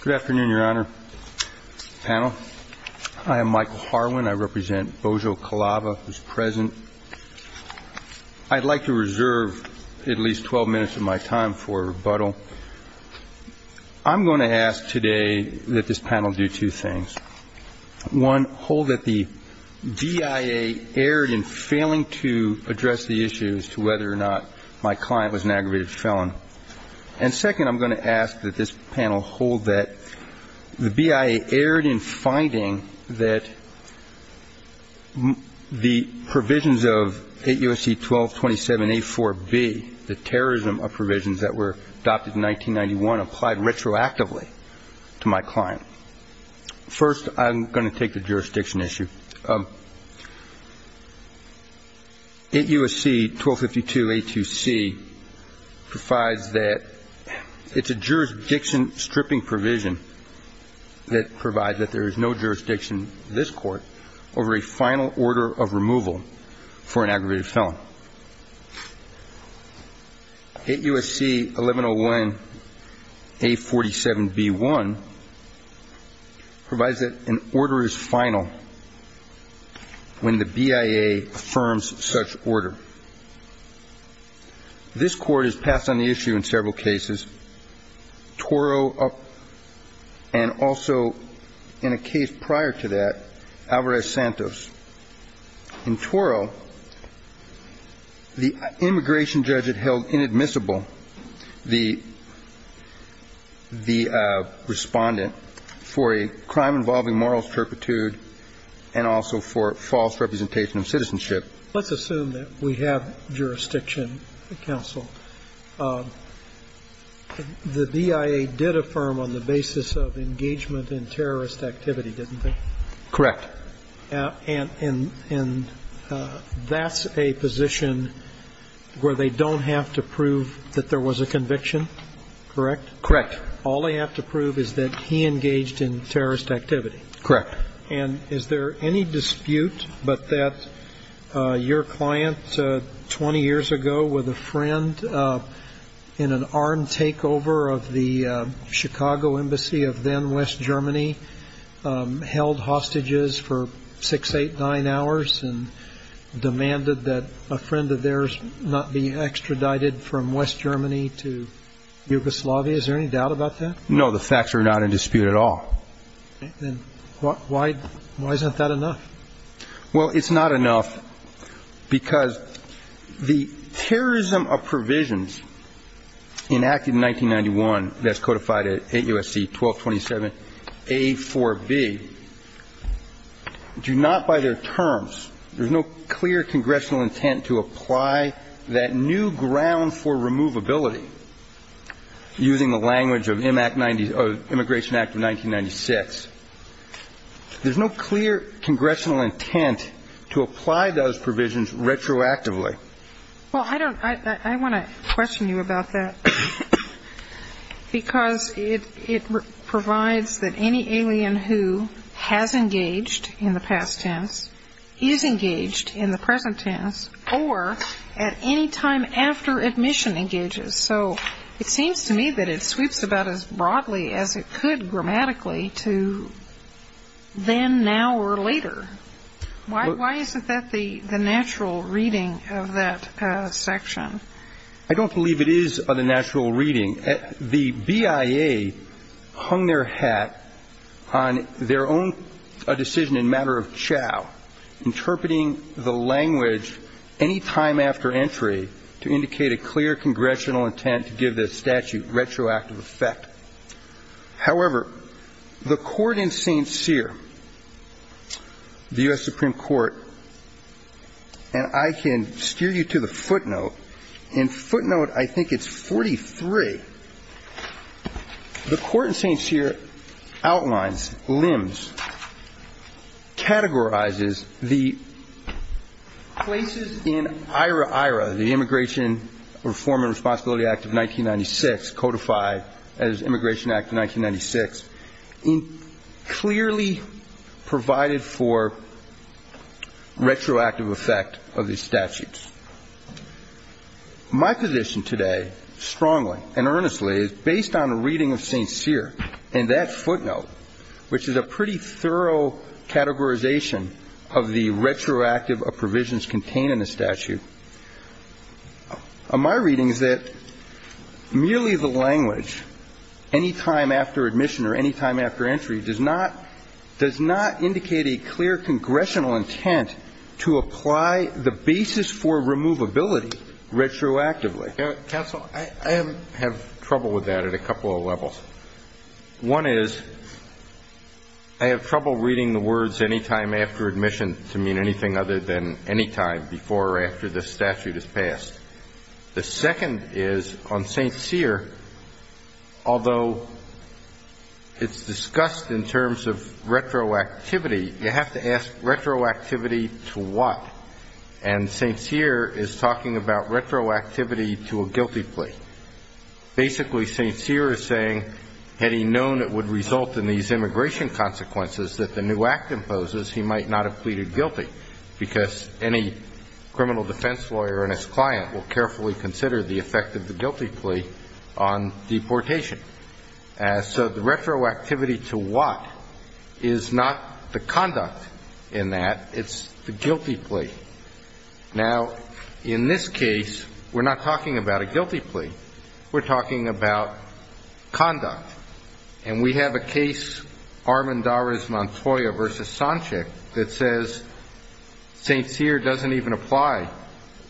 Good afternoon, Your Honor, panel. I am Michael Harwin. I represent Bojo Calava, who's present. I'd like to reserve at least 12 minutes of my time for rebuttal. I'm going to ask today that this panel do two things. One, hold that the DIA erred in failing to address the issue as to whether or not my client was an aggravated felon. And second, I'm going to ask that this panel hold that the BIA erred in finding that the provisions of 8 U.S.C. 1227-A4B, the terrorism of provisions that were adopted in 1991, applied retroactively to my client. First, I'm going to take the jurisdiction issue. 8 U.S.C. 1252-A2C provides that it's a jurisdiction stripping provision that provides that there is no jurisdiction in this court over a final order of removal for an aggravated felon. 8 U.S.C. 1101-A47B1 provides that an order is final when the BIA affirms such order. This court has passed on the issue in several cases, Toro and also in a case prior to that, Alvarez-Santos. In Toro, the immigration judge had held inadmissible the respondent for a crime involving moral turpitude and also for false representation of citizenship. Let's assume that we have jurisdiction, counsel. The BIA did affirm on the basis of engagement in terrorist activity, didn't it? Correct. And that's a position where they don't have to prove that there was a conviction, correct? Correct. All they have to prove is that he engaged in terrorist activity? Correct. And is there any dispute but that your client 20 years ago with a friend in an armed takeover of the Chicago Embassy of then-West Germany held hostages for 6, 8, 9 hours and demanded that a friend of theirs not be extradited from West Germany to Yugoslavia? Is there any doubt about that? No. The facts are not in dispute at all. Then why isn't that enough? Well, it's not enough because the terrorism of provisions enacted in 1991 that's codified at 8 U.S.C. 1227A4B do not by their terms, there's no clear congressional intent to apply that new ground for removability using the language of Immigration Act of 1996. There's no clear congressional intent to apply those provisions retroactively. Well, I want to question you about that because it provides that any alien who has engaged in the past tense is engaged in the present tense or at any time after admission engages. So it seems to me that it sweeps about as broadly as it could grammatically to then, now, or later. Why isn't that the natural reading of that section? I don't believe it is the natural reading. The BIA hung their hat on their own decision in matter of chow, interpreting the language any time after entry to indicate a clear congressional intent to give this statute retroactive effect. However, the court in St. Cyr, the U.S. Supreme Court, and I can steer you to the footnote. In footnote, I think it's 43. The court in St. Cyr outlines, limbs, categorizes the places in IRAIRA, the Immigration Reform and Responsibility Act of 1996, codified as Immigration Act of 1996, clearly provided for retroactive effect of these statutes. My position today, strongly and earnestly, is based on a reading of St. Cyr and that footnote, which is a pretty thorough categorization of the retroactive provisions contained in the statute. My reading is that merely the language, any time after admission or any time after entry, does not indicate a clear congressional intent to apply the basis for removability retroactively. Counsel, I have trouble with that at a couple of levels. One is I have trouble reading the words any time after admission to mean anything other than any time before or after this statute is passed. The second is on St. Cyr, although it's discussed in terms of retroactivity, you have to ask retroactivity to what? And St. Cyr is talking about retroactivity to a guilty plea. Basically, St. Cyr is saying, had he known it would result in these immigration consequences that the new act imposes, he might not have pleaded guilty because any criminal defense lawyer and his client will carefully consider the effect of the guilty plea on deportation. So the retroactivity to what is not the conduct in that. It's the guilty plea. Now, in this case, we're not talking about a guilty plea. We're talking about conduct. And we have a case, Armendariz Montoya v. Sanchek, that says St. Cyr doesn't even apply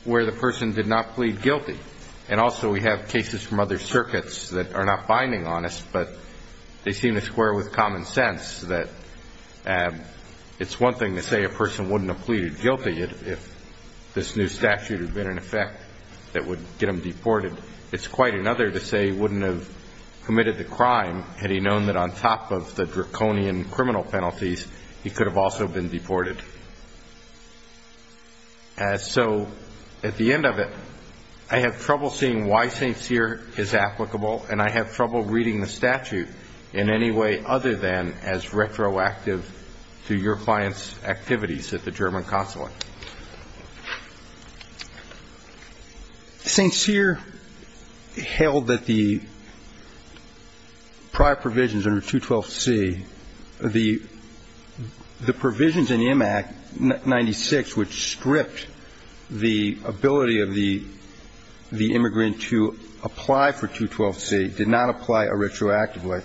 where the person did not plead guilty. And also we have cases from other circuits that are not binding on us, but they seem to square with common sense that it's one thing to say a person wouldn't have pleaded guilty if this new statute had been in effect that would get them deported. It's quite another to say he wouldn't have committed the crime had he known that on top of the draconian criminal penalties, he could have also been deported. So at the end of it, I have trouble seeing why St. Cyr is applicable, and I have trouble reading the statute in any way other than as retroactive to your client's activities at the German consulate. St. Cyr held that the prior provisions under 212C, the provisions in M.A.C. 96 which stripped the ability of the immigrant to apply for 212C did not apply retroactively.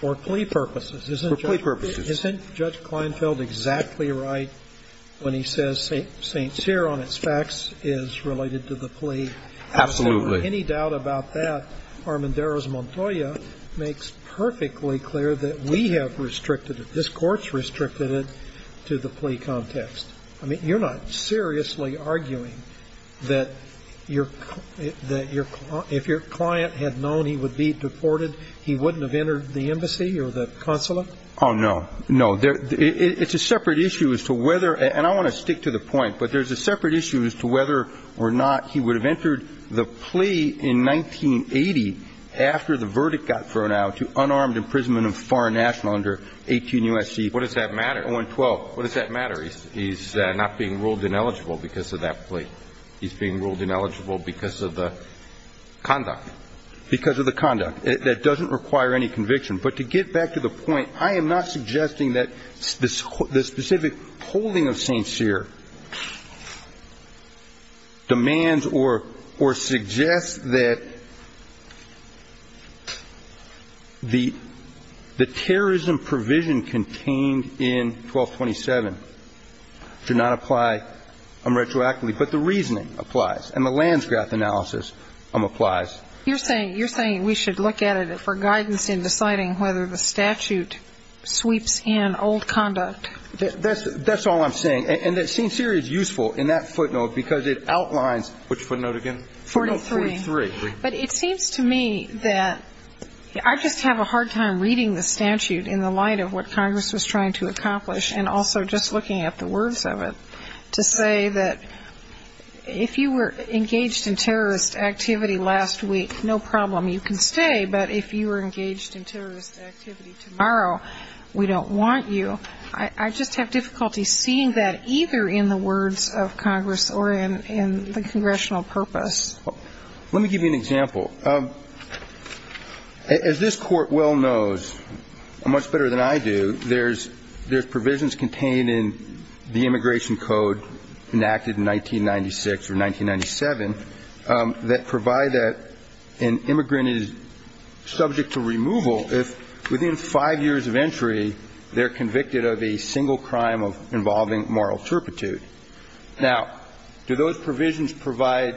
For plea purposes. For plea purposes. So isn't Judge Kleinfeld exactly right when he says St. Cyr on its facts is related to the plea? Absolutely. Any doubt about that, Armanderos-Montoya makes perfectly clear that we have restricted it, this Court's restricted it to the plea context. I mean, you're not seriously arguing that if your client had known he would be deported, he wouldn't have entered the embassy or the consulate? Oh, no. No. It's a separate issue as to whether, and I want to stick to the point, but there's a separate issue as to whether or not he would have entered the plea in 1980 after the verdict got thrown out to unarmed imprisonment of foreign national under 18 U.S.C. What does that matter? What does that matter? He's not being ruled ineligible because of that plea. He's being ruled ineligible because of the conduct. Because of the conduct. That doesn't require any conviction. But to get back to the point, I am not suggesting that the specific holding of St. Cyr demands or suggests that the terrorism provision contained in 1227 should not apply unretroactively, but the reasoning applies, and the Lansgrath analysis applies. You're saying we should look at it for guidance in deciding whether the statute sweeps in old conduct? That's all I'm saying. And that St. Cyr is useful in that footnote because it outlines, which footnote again? Footnote 43. 43. But it seems to me that I just have a hard time reading the statute in the light of what Congress was trying to accomplish and also just looking at the words of it to say that if you were engaged in terrorist activity last week, no problem, you can stay. But if you were engaged in terrorist activity tomorrow, we don't want you. I just have difficulty seeing that either in the words of Congress or in the congressional purpose. Let me give you an example. As this Court well knows, much better than I do, there's provisions contained in the 1996 or 1997 that provide that an immigrant is subject to removal if, within five years of entry, they're convicted of a single crime involving moral turpitude. Now, do those provisions provide,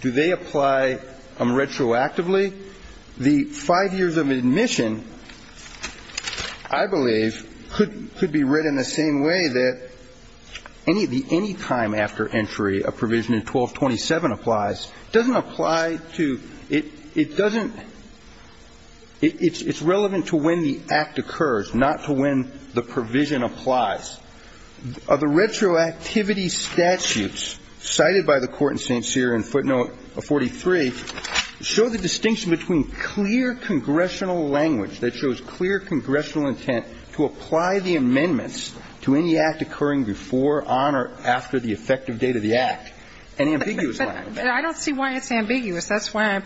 do they apply unretroactively? The five years of admission, I believe, could be read in the same way that any time after entry a provision in 1227 applies. It doesn't apply to ñ it doesn't ñ it's relevant to when the act occurs, not to when the provision applies. The retroactivity statutes cited by the Court in St. Cyr in footnote 43 show the distinction between clear congressional language that shows clear congressional intent to apply the amendments to any act occurring before, on or after the effective date of the act, and ambiguous language. But I don't see why it's ambiguous. That's why I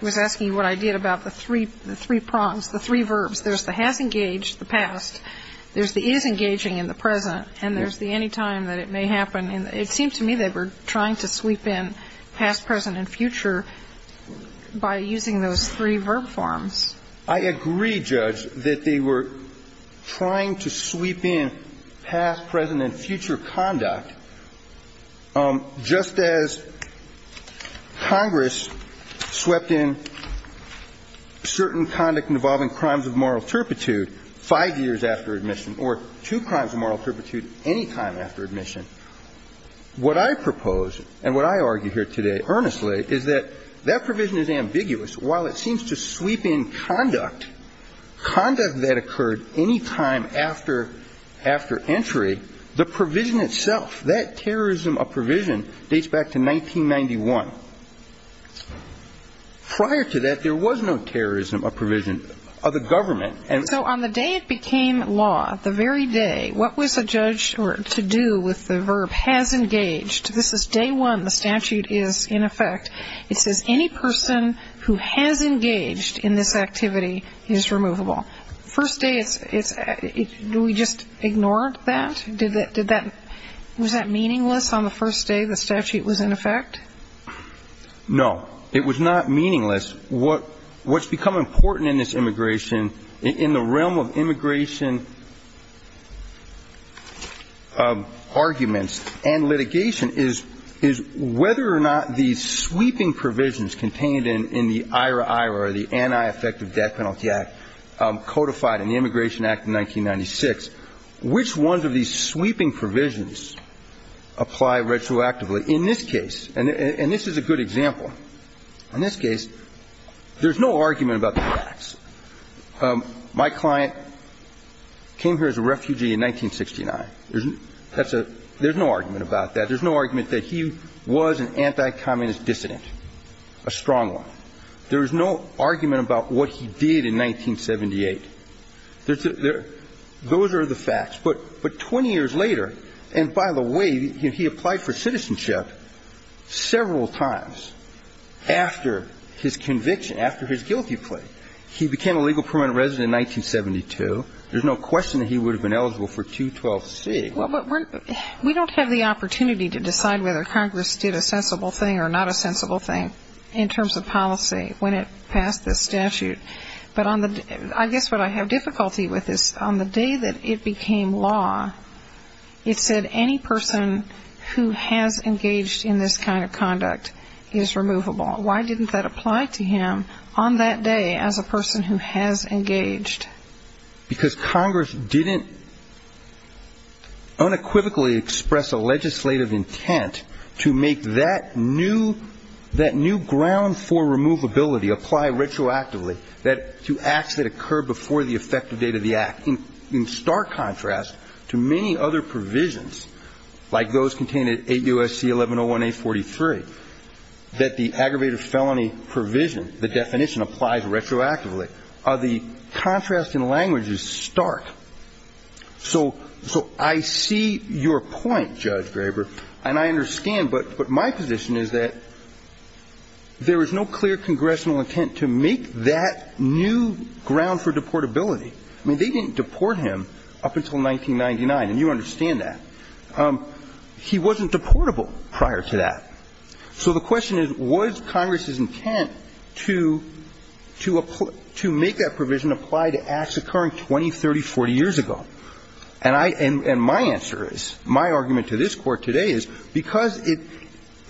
was asking you what I did about the three prongs, the three verbs. There's the has engaged, the past. There's the is engaging in the present. And there's the anytime that it may happen. And it seemed to me they were trying to sweep in past, present and future by using those three verb forms. I agree, Judge, that they were trying to sweep in past, present and future conduct just as Congress swept in certain conduct involving crimes of moral turpitude five years after admission or two crimes of moral turpitude any time after admission. What I propose, and what I argue here today earnestly, is that that provision is ambiguous. While it seems to sweep in conduct, conduct that occurred any time after entry, the provision itself, that terrorism of provision dates back to 1991. Prior to that, there was no terrorism of provision of the government. So on the day it became law, the very day, what was the judge to do with the verb has engaged? This is day one. The statute is in effect. It says any person who has engaged in this activity is removable. First day, do we just ignore that? Was that meaningless on the first day the statute was in effect? No. It was not meaningless. What's become important in this immigration, in the realm of immigration arguments and litigation, is whether or not these sweeping provisions contained in the IRA-IRA, the Anti-Effective Death Penalty Act, codified in the Immigration Act of 1996, which ones of these sweeping provisions apply retroactively in this case? And this is a good example. In this case, there's no argument about the facts. My client came here as a refugee in 1969. There's no argument about that. There's no argument that he was an anti-Communist dissident, a strong one. There was no argument about what he did in 1978. Those are the facts. But 20 years later, and by the way, he applied for citizenship several times after his conviction, after his guilty plea. He became a legal permanent resident in 1972. There's no question that he would have been eligible for 212C. Well, but we don't have the opportunity to decide whether Congress did a sensible thing or not a sensible thing in terms of policy when it passed this statute. But I guess what I have difficulty with is on the day that it became law, it said any person who has engaged in this kind of conduct is removable. Why didn't that apply to him on that day? As a person who has engaged. Because Congress didn't unequivocally express a legislative intent to make that new ground for removability apply retroactively to acts that occurred before the effective date of the act. In stark contrast to many other provisions, like those contained in 8 U.S.C. 1101A43, that the aggravated felony provision, the definition applies retroactively, the contrast in language is stark. So I see your point, Judge Graber, and I understand. But my position is that there is no clear congressional intent to make that new ground for deportability. I mean, they didn't deport him up until 1999, and you understand that. He wasn't deportable prior to that. So the question is, was Congress's intent to make that provision apply to acts occurring 20, 30, 40 years ago? And my answer is, my argument to this Court today is, because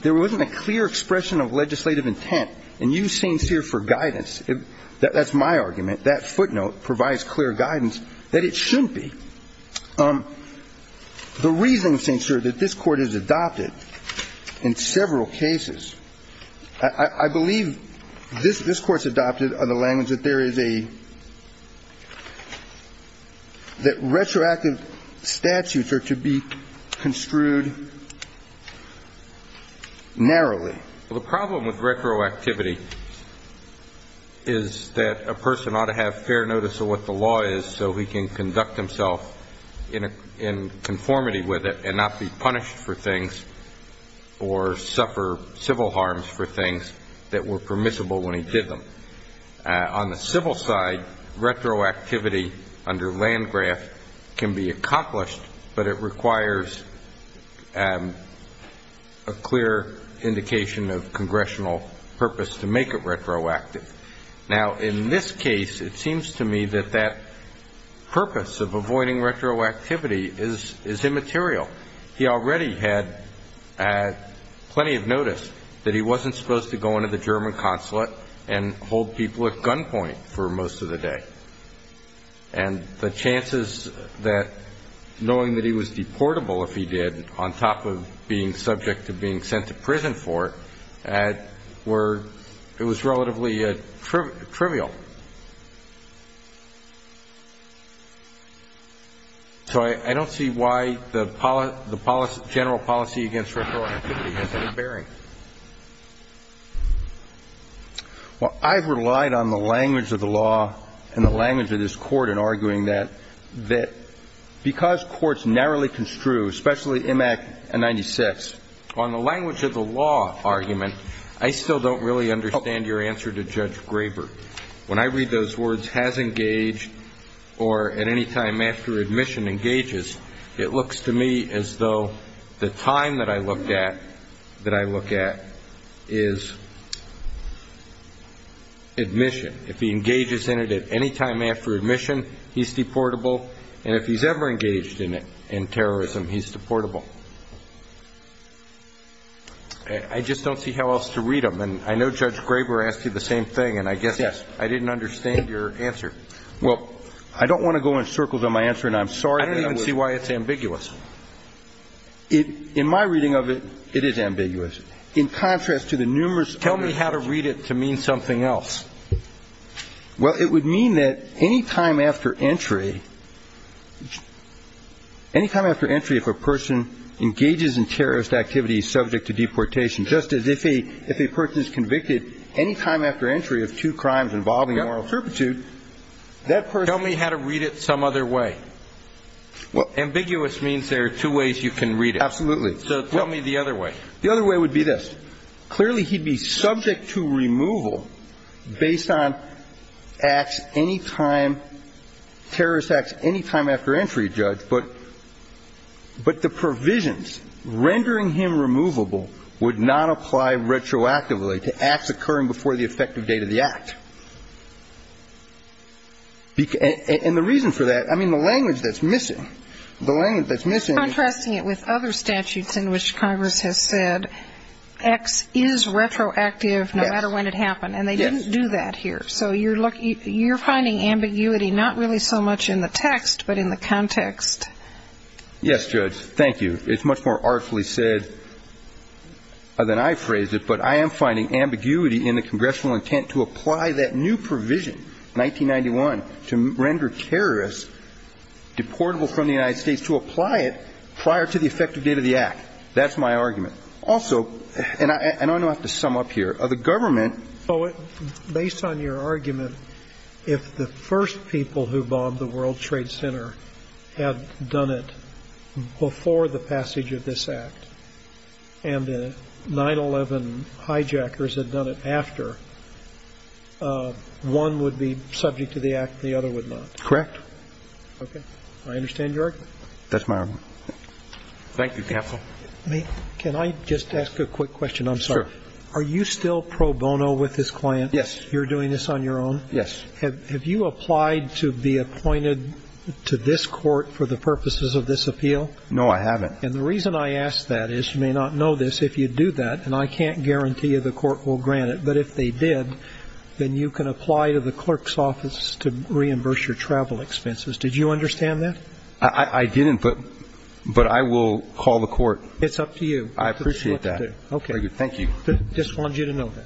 there wasn't a clear expression of legislative intent, and you're sincere for guidance. That's my argument. That footnote provides clear guidance that it shouldn't be. The reason, St. Sir, that this Court has adopted in several cases, I believe this Court's adopted the language that there is a – that retroactive statutes are to be construed narrowly. Well, the problem with retroactivity is that a person ought to have fair notice of what the law is so he can conduct himself in conformity with it and not be punished for things or suffer civil harms for things that were permissible when he did them. On the civil side, retroactivity under Landgraf can be accomplished, but it requires a clear indication of congressional purpose to make it retroactive. Now, in this case, it seems to me that that purpose of avoiding retroactivity is immaterial. He already had plenty of notice that he wasn't supposed to go into the German consulate and hold people at gunpoint for most of the day. And the chances that knowing that he was deportable if he did, on top of being subject to being sent to prison for it, were – it was relatively trivial. So I don't see why the general policy against retroactivity has any bearing. Well, I've relied on the language of the law and the language of this Court in arguing that because courts narrowly construe, especially in Act 96, on the language of the law argument, I still don't really understand your answer to Judge Graber. When I read those words, has engaged, or at any time after admission engages, it looks to me as though the time that I looked at is admission. If he engages in it at any time after admission, he's deportable. And if he's ever engaged in it, in terrorism, he's deportable. I just don't see how else to read them. And I know Judge Graber asked you the same thing, and I guess I didn't understand your answer. Well, I don't want to go in circles on my answer, and I'm sorry. I don't even see why it's ambiguous. In my reading of it, it is ambiguous. Tell me how to read it to mean something else. Well, it would mean that any time after entry, any time after entry if a person engages in terrorist activity subject to deportation, just as if a person is convicted any time after entry of two crimes involving moral turpitude, that person – Tell me how to read it some other way. Ambiguous means there are two ways you can read it. Absolutely. So tell me the other way. The other way would be this. Clearly, he'd be subject to removal based on acts any time, terrorist acts any time after entry, Judge, but the provisions rendering him removable would not apply retroactively to acts occurring before the effective date of the act. And the reason for that, I mean, the language that's missing, the language that's missing is – You said X is retroactive no matter when it happened, and they didn't do that here. So you're finding ambiguity not really so much in the text but in the context. Yes, Judge. Thank you. It's much more artfully said than I phrased it, but I am finding ambiguity in the congressional intent to apply that new provision, 1991, to render terrorists deportable from the United States to apply it prior to the effective date of the act. That's my argument. Also – and I don't know how to sum up here. The government – Based on your argument, if the first people who bombed the World Trade Center had done it before the passage of this act and the 9-11 hijackers had done it after, one would be subject to the act and the other would not. Correct. Okay. I understand your argument. That's my argument. Thank you, counsel. May – can I just ask a quick question? I'm sorry. Sure. Are you still pro bono with this client? Yes. You're doing this on your own? Yes. Have you applied to be appointed to this court for the purposes of this appeal? No, I haven't. And the reason I ask that is you may not know this if you do that, and I can't guarantee the court will grant it, but if they did, then you can apply to the clerk's office to reimburse your travel expenses. Did you understand that? I didn't, but I will call the court. It's up to you. I appreciate that. Okay. Thank you. Just wanted you to know that.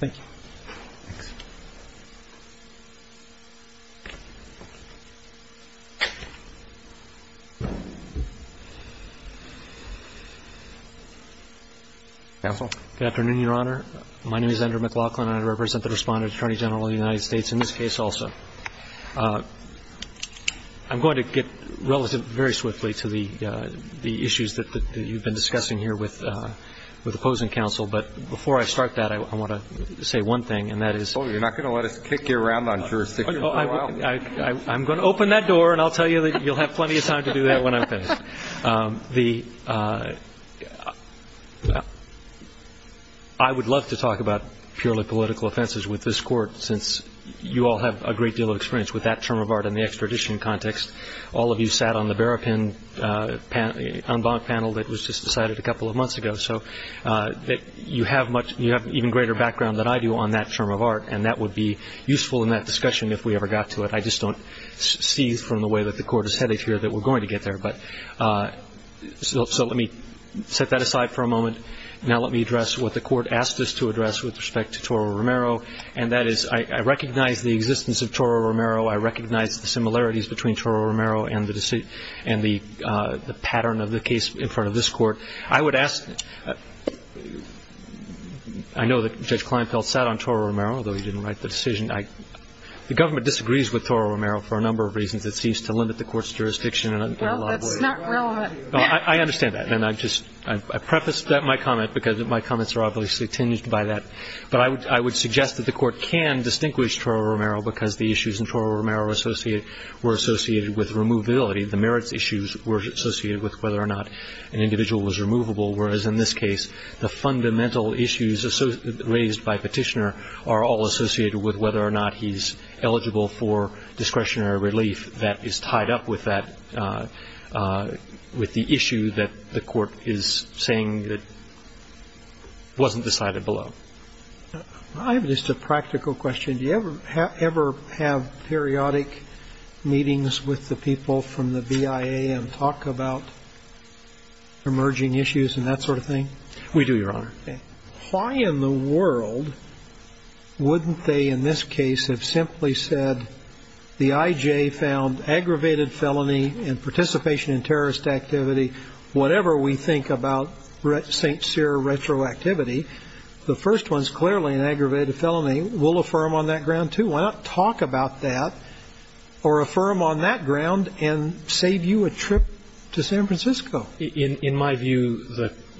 Thank you. Thanks. Counsel? Good afternoon, Your Honor. My name is Andrew McLaughlin, and I represent the Respondent Attorney General of the United States in this case also. I'm going to get relative very swiftly to the issues that you've been discussing here with opposing counsel, but before I start that, I want to say one thing, and that is – Oh, you're not going to let us kick you around on jurisdiction? I'm going to open that door, and I'll tell you that you'll have plenty of time to do that when I'm finished. I would love to talk about purely political offenses with this court, since you all have a great deal of experience with that term of art in the extradition context. All of you sat on the Barapin en banc panel that was just decided a couple of months ago, so you have even greater background than I do on that term of art, and that would be useful in that discussion if we ever got to it. I just don't see from the way that the court is headed here that we're going to get there. So let me set that aside for a moment. Now let me address what the court asked us to address with respect to Toro Romero, and that is I recognize the existence of Toro Romero. I recognize the similarities between Toro Romero and the pattern of the case in front of this court. I would ask – I know that Judge Kleinfeld sat on Toro Romero, although he didn't write the decision. The government disagrees with Toro Romero for a number of reasons. It seems to limit the court's jurisdiction in a lot of ways. Well, that's not relevant. I understand that, and I just – I prefaced my comment because my comments are obviously tinged by that. But I would suggest that the court can distinguish Toro Romero because the issues in Toro Romero were associated with removability. The merits issues were associated with whether or not an individual was removable, whereas in this case the fundamental issues raised by Petitioner are all associated with whether or not he's eligible for discretionary relief. That is tied up with that – with the issue that the court is saying that wasn't decided below. I have just a practical question. Do you ever have periodic meetings with the people from the BIA and talk about emerging issues and that sort of thing? We do, Your Honor. Why in the world wouldn't they in this case have simply said the IJ found aggravated felony and participation in terrorist activity, whatever we think about St. Cyr retroactivity. The first one is clearly an aggravated felony. We'll affirm on that ground, too. Why not talk about that or affirm on that ground and save you a trip to San Francisco? In my view,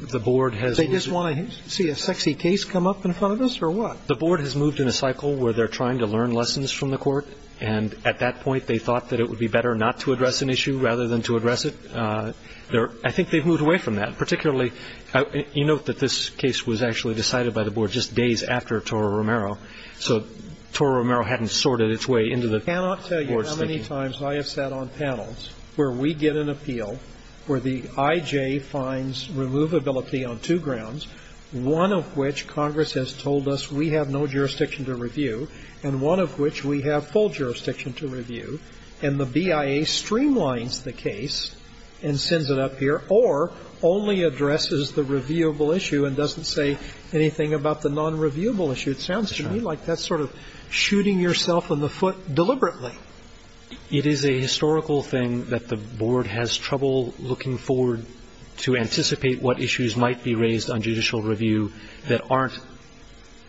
the board has – They just want to see a sexy case come up in front of us or what? The board has moved in a cycle where they're trying to learn lessons from the court and at that point they thought that it would be better not to address an issue rather than to address it. I think they've moved away from that. Particularly – you note that this case was actually decided by the board just days after Toro Romero. So Toro Romero hadn't sorted its way into the board's thinking. How many times I have sat on panels where we get an appeal where the IJ finds removability on two grounds, one of which Congress has told us we have no jurisdiction to review and one of which we have full jurisdiction to review, and the BIA streamlines the case and sends it up here or only addresses the reviewable issue and doesn't say anything about the nonreviewable issue. It sounds to me like that's sort of shooting yourself in the foot deliberately. It is a historical thing that the board has trouble looking forward to anticipate what issues might be raised on judicial review that aren't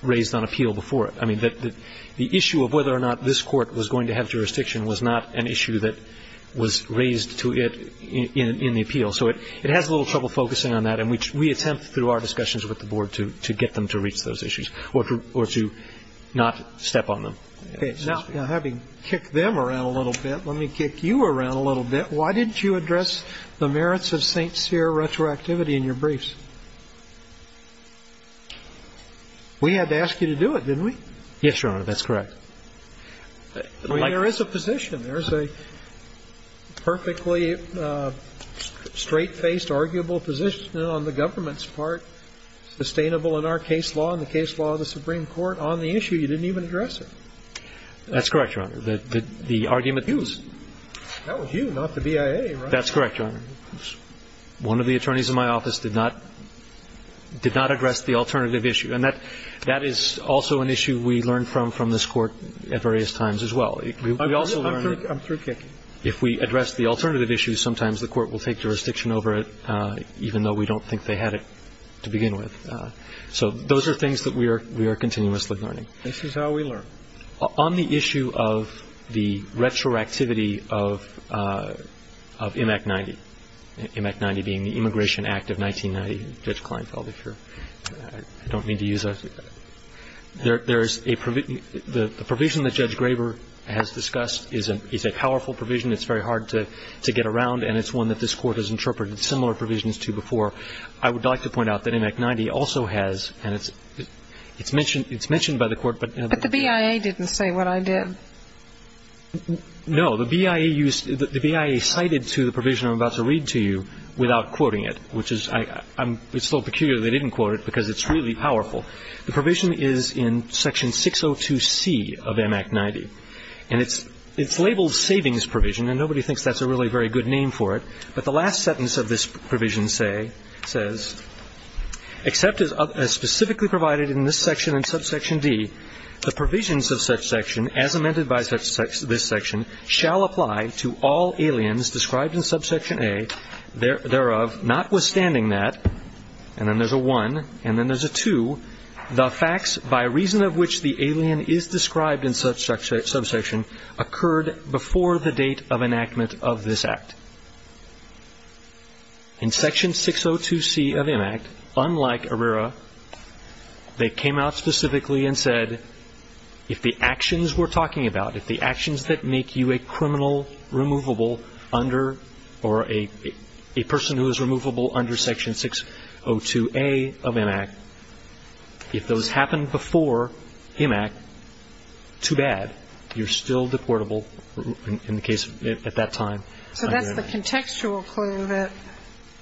raised on appeal before it. I mean, the issue of whether or not this court was going to have jurisdiction was not an issue that was raised to it in the appeal. So it has a little trouble focusing on that, and we attempt through our discussions with the board to get them to reach those issues or to not step on them. Okay. Now, having kicked them around a little bit, let me kick you around a little bit. Why didn't you address the merits of St. Cyr retroactivity in your briefs? We had to ask you to do it, didn't we? Yes, Your Honor. That's correct. There is a position. There is a perfectly straight-faced, arguable position on the government's part, sustainable in our case law and the case law of the Supreme Court, on the issue. You didn't even address it. That's correct, Your Honor. The argument was you. That was you, not the BIA, right? That's correct, Your Honor. One of the attorneys in my office did not address the alternative issue. And that is also an issue we learn from this Court at various times as well. I'm through kicking. If we address the alternative issue, sometimes the Court will take jurisdiction over it, even though we don't think they had it to begin with. So those are things that we are continuously learning. This is how we learn. On the issue of the retroactivity of M.A.C. 90, M.A.C. 90 being the Immigration Act of 1990, Judge Kleinfeld, if you don't mean to use that, there is a provision that Judge Graber has discussed is a powerful provision. It's very hard to get around, and it's one that this Court has interpreted similar provisions to before. I would like to point out that M.A.C. 90 also has, and it's mentioned by the Court But the BIA didn't say what I did. No. The BIA cited to the provision I'm about to read to you without quoting it, which is, it's a little peculiar they didn't quote it because it's really powerful. The provision is in Section 602C of M.A.C. 90. And it's labeled Savings Provision, and nobody thinks that's a really very good name for it. But the last sentence of this provision says, except as specifically provided in this section and subsection D, the provisions of such section as amended by this section shall apply to all aliens described in subsection A, thereof, notwithstanding that, and then there's a one, and then there's a two, the facts by reason of which the alien is described in such subsection occurred before the date of enactment of this act. In Section 602C of M.A.C., unlike ARERA, they came out specifically and said, if the actions we're talking about, if the actions that make you a criminal removable under, or a person who is removable under Section 602A of M.A.C., if those So that's the contextual clue that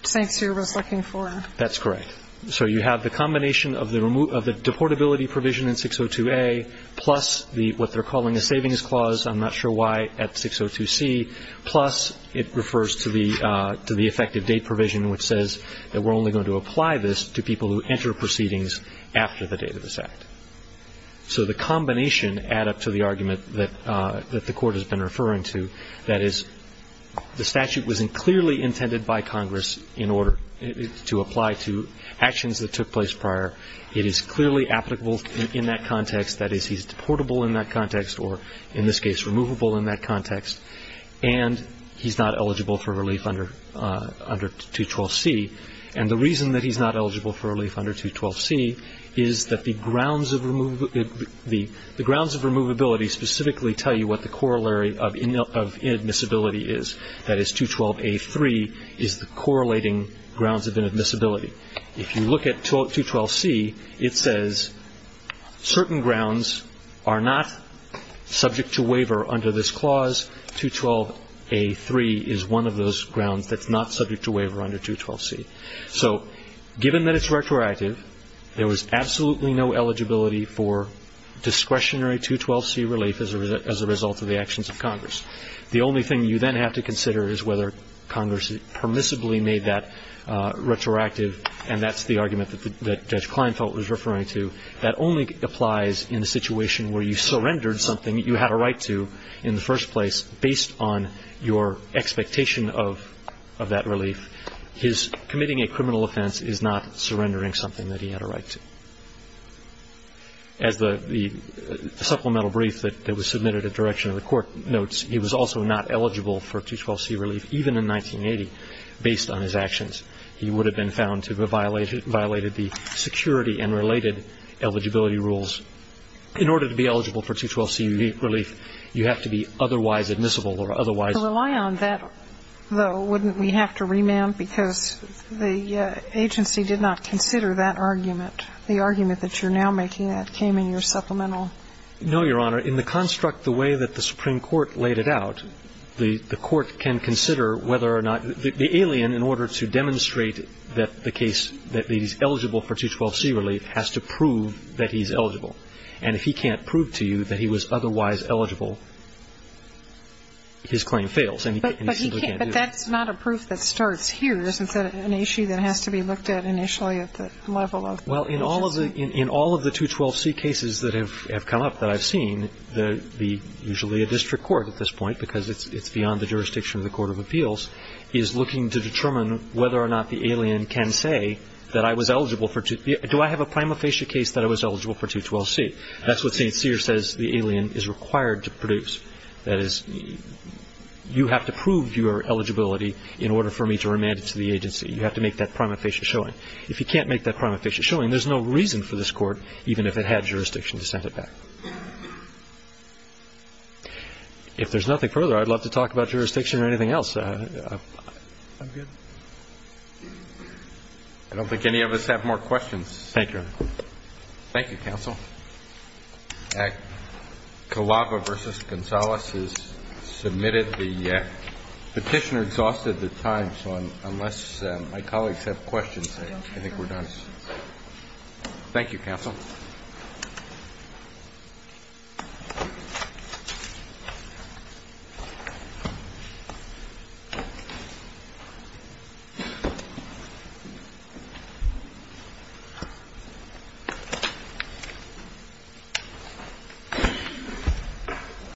St. Cyr was looking for. That's correct. So you have the combination of the deportability provision in 602A, plus what they're calling a savings clause, I'm not sure why, at 602C, plus it refers to the effective date provision, which says that we're only going to apply this to people who enter proceedings after the date of this act. So the combination add up to the argument that the Court has been referring to, that is, the statute was clearly intended by Congress in order to apply to actions that took place prior. It is clearly applicable in that context, that is, he's deportable in that context, or in this case, removable in that context, and he's not eligible for relief under 212C. And the reason that he's not eligible for relief under 212C is that the grounds of removability specifically tell you what the corollary of inadmissibility is. That is, 212A3 is the correlating grounds of inadmissibility. If you look at 212C, it says certain grounds are not subject to waiver under this clause. 212A3 is one of those grounds that's not subject to waiver under 212C. So given that it's retroactive, there was absolutely no eligibility for discretionary 212C relief as a result of the actions of Congress. The only thing you then have to consider is whether Congress permissibly made that retroactive, and that's the argument that Judge Kleinfeld was referring to. That only applies in a situation where you surrendered something you had a right to in the first place based on your expectation of that relief. His committing a criminal offense is not surrendering something that he had a right to. As the supplemental brief that was submitted at direction of the Court notes, he was also not eligible for 212C relief even in 1980 based on his actions. He would have been found to have violated the security and related eligibility rules. In order to be eligible for 212C relief, you have to be otherwise admissible or otherwise ---- So to rely on that, though, wouldn't we have to remand? Because the agency did not consider that argument. The argument that you're now making that came in your supplemental. No, Your Honor. In the construct the way that the Supreme Court laid it out, the Court can consider whether or not the alien, in order to demonstrate that the case, that he's eligible for 212C relief, has to prove that he's eligible. And if he can't prove to you that he was otherwise eligible, his claim fails. And he simply can't do it. But that's not a proof that starts here. Isn't that an issue that has to be looked at initially at the level of the agency? Well, in all of the 212C cases that have come up that I've seen, usually a district court at this point, because it's beyond the jurisdiction of the Court of Appeals, is looking to determine whether or not the alien can say that I was eligible for 212C. Do I have a prima facie case that I was eligible for 212C? That's what St. Cyr says the alien is required to produce. That is, you have to prove your eligibility in order for me to remand it to the agency. You have to make that prima facie showing. If you can't make that prima facie showing, there's no reason for this Court, even if it had jurisdiction to send it back. If there's nothing further, I'd love to talk about jurisdiction or anything else. I'm good. I don't think any of us have more questions. Thank you, Your Honor. Thank you, counsel. Calava v. Gonzales has submitted the petitioner exhausted their time. So unless my colleagues have questions, I think we're done. Thank you, counsel. Thank you.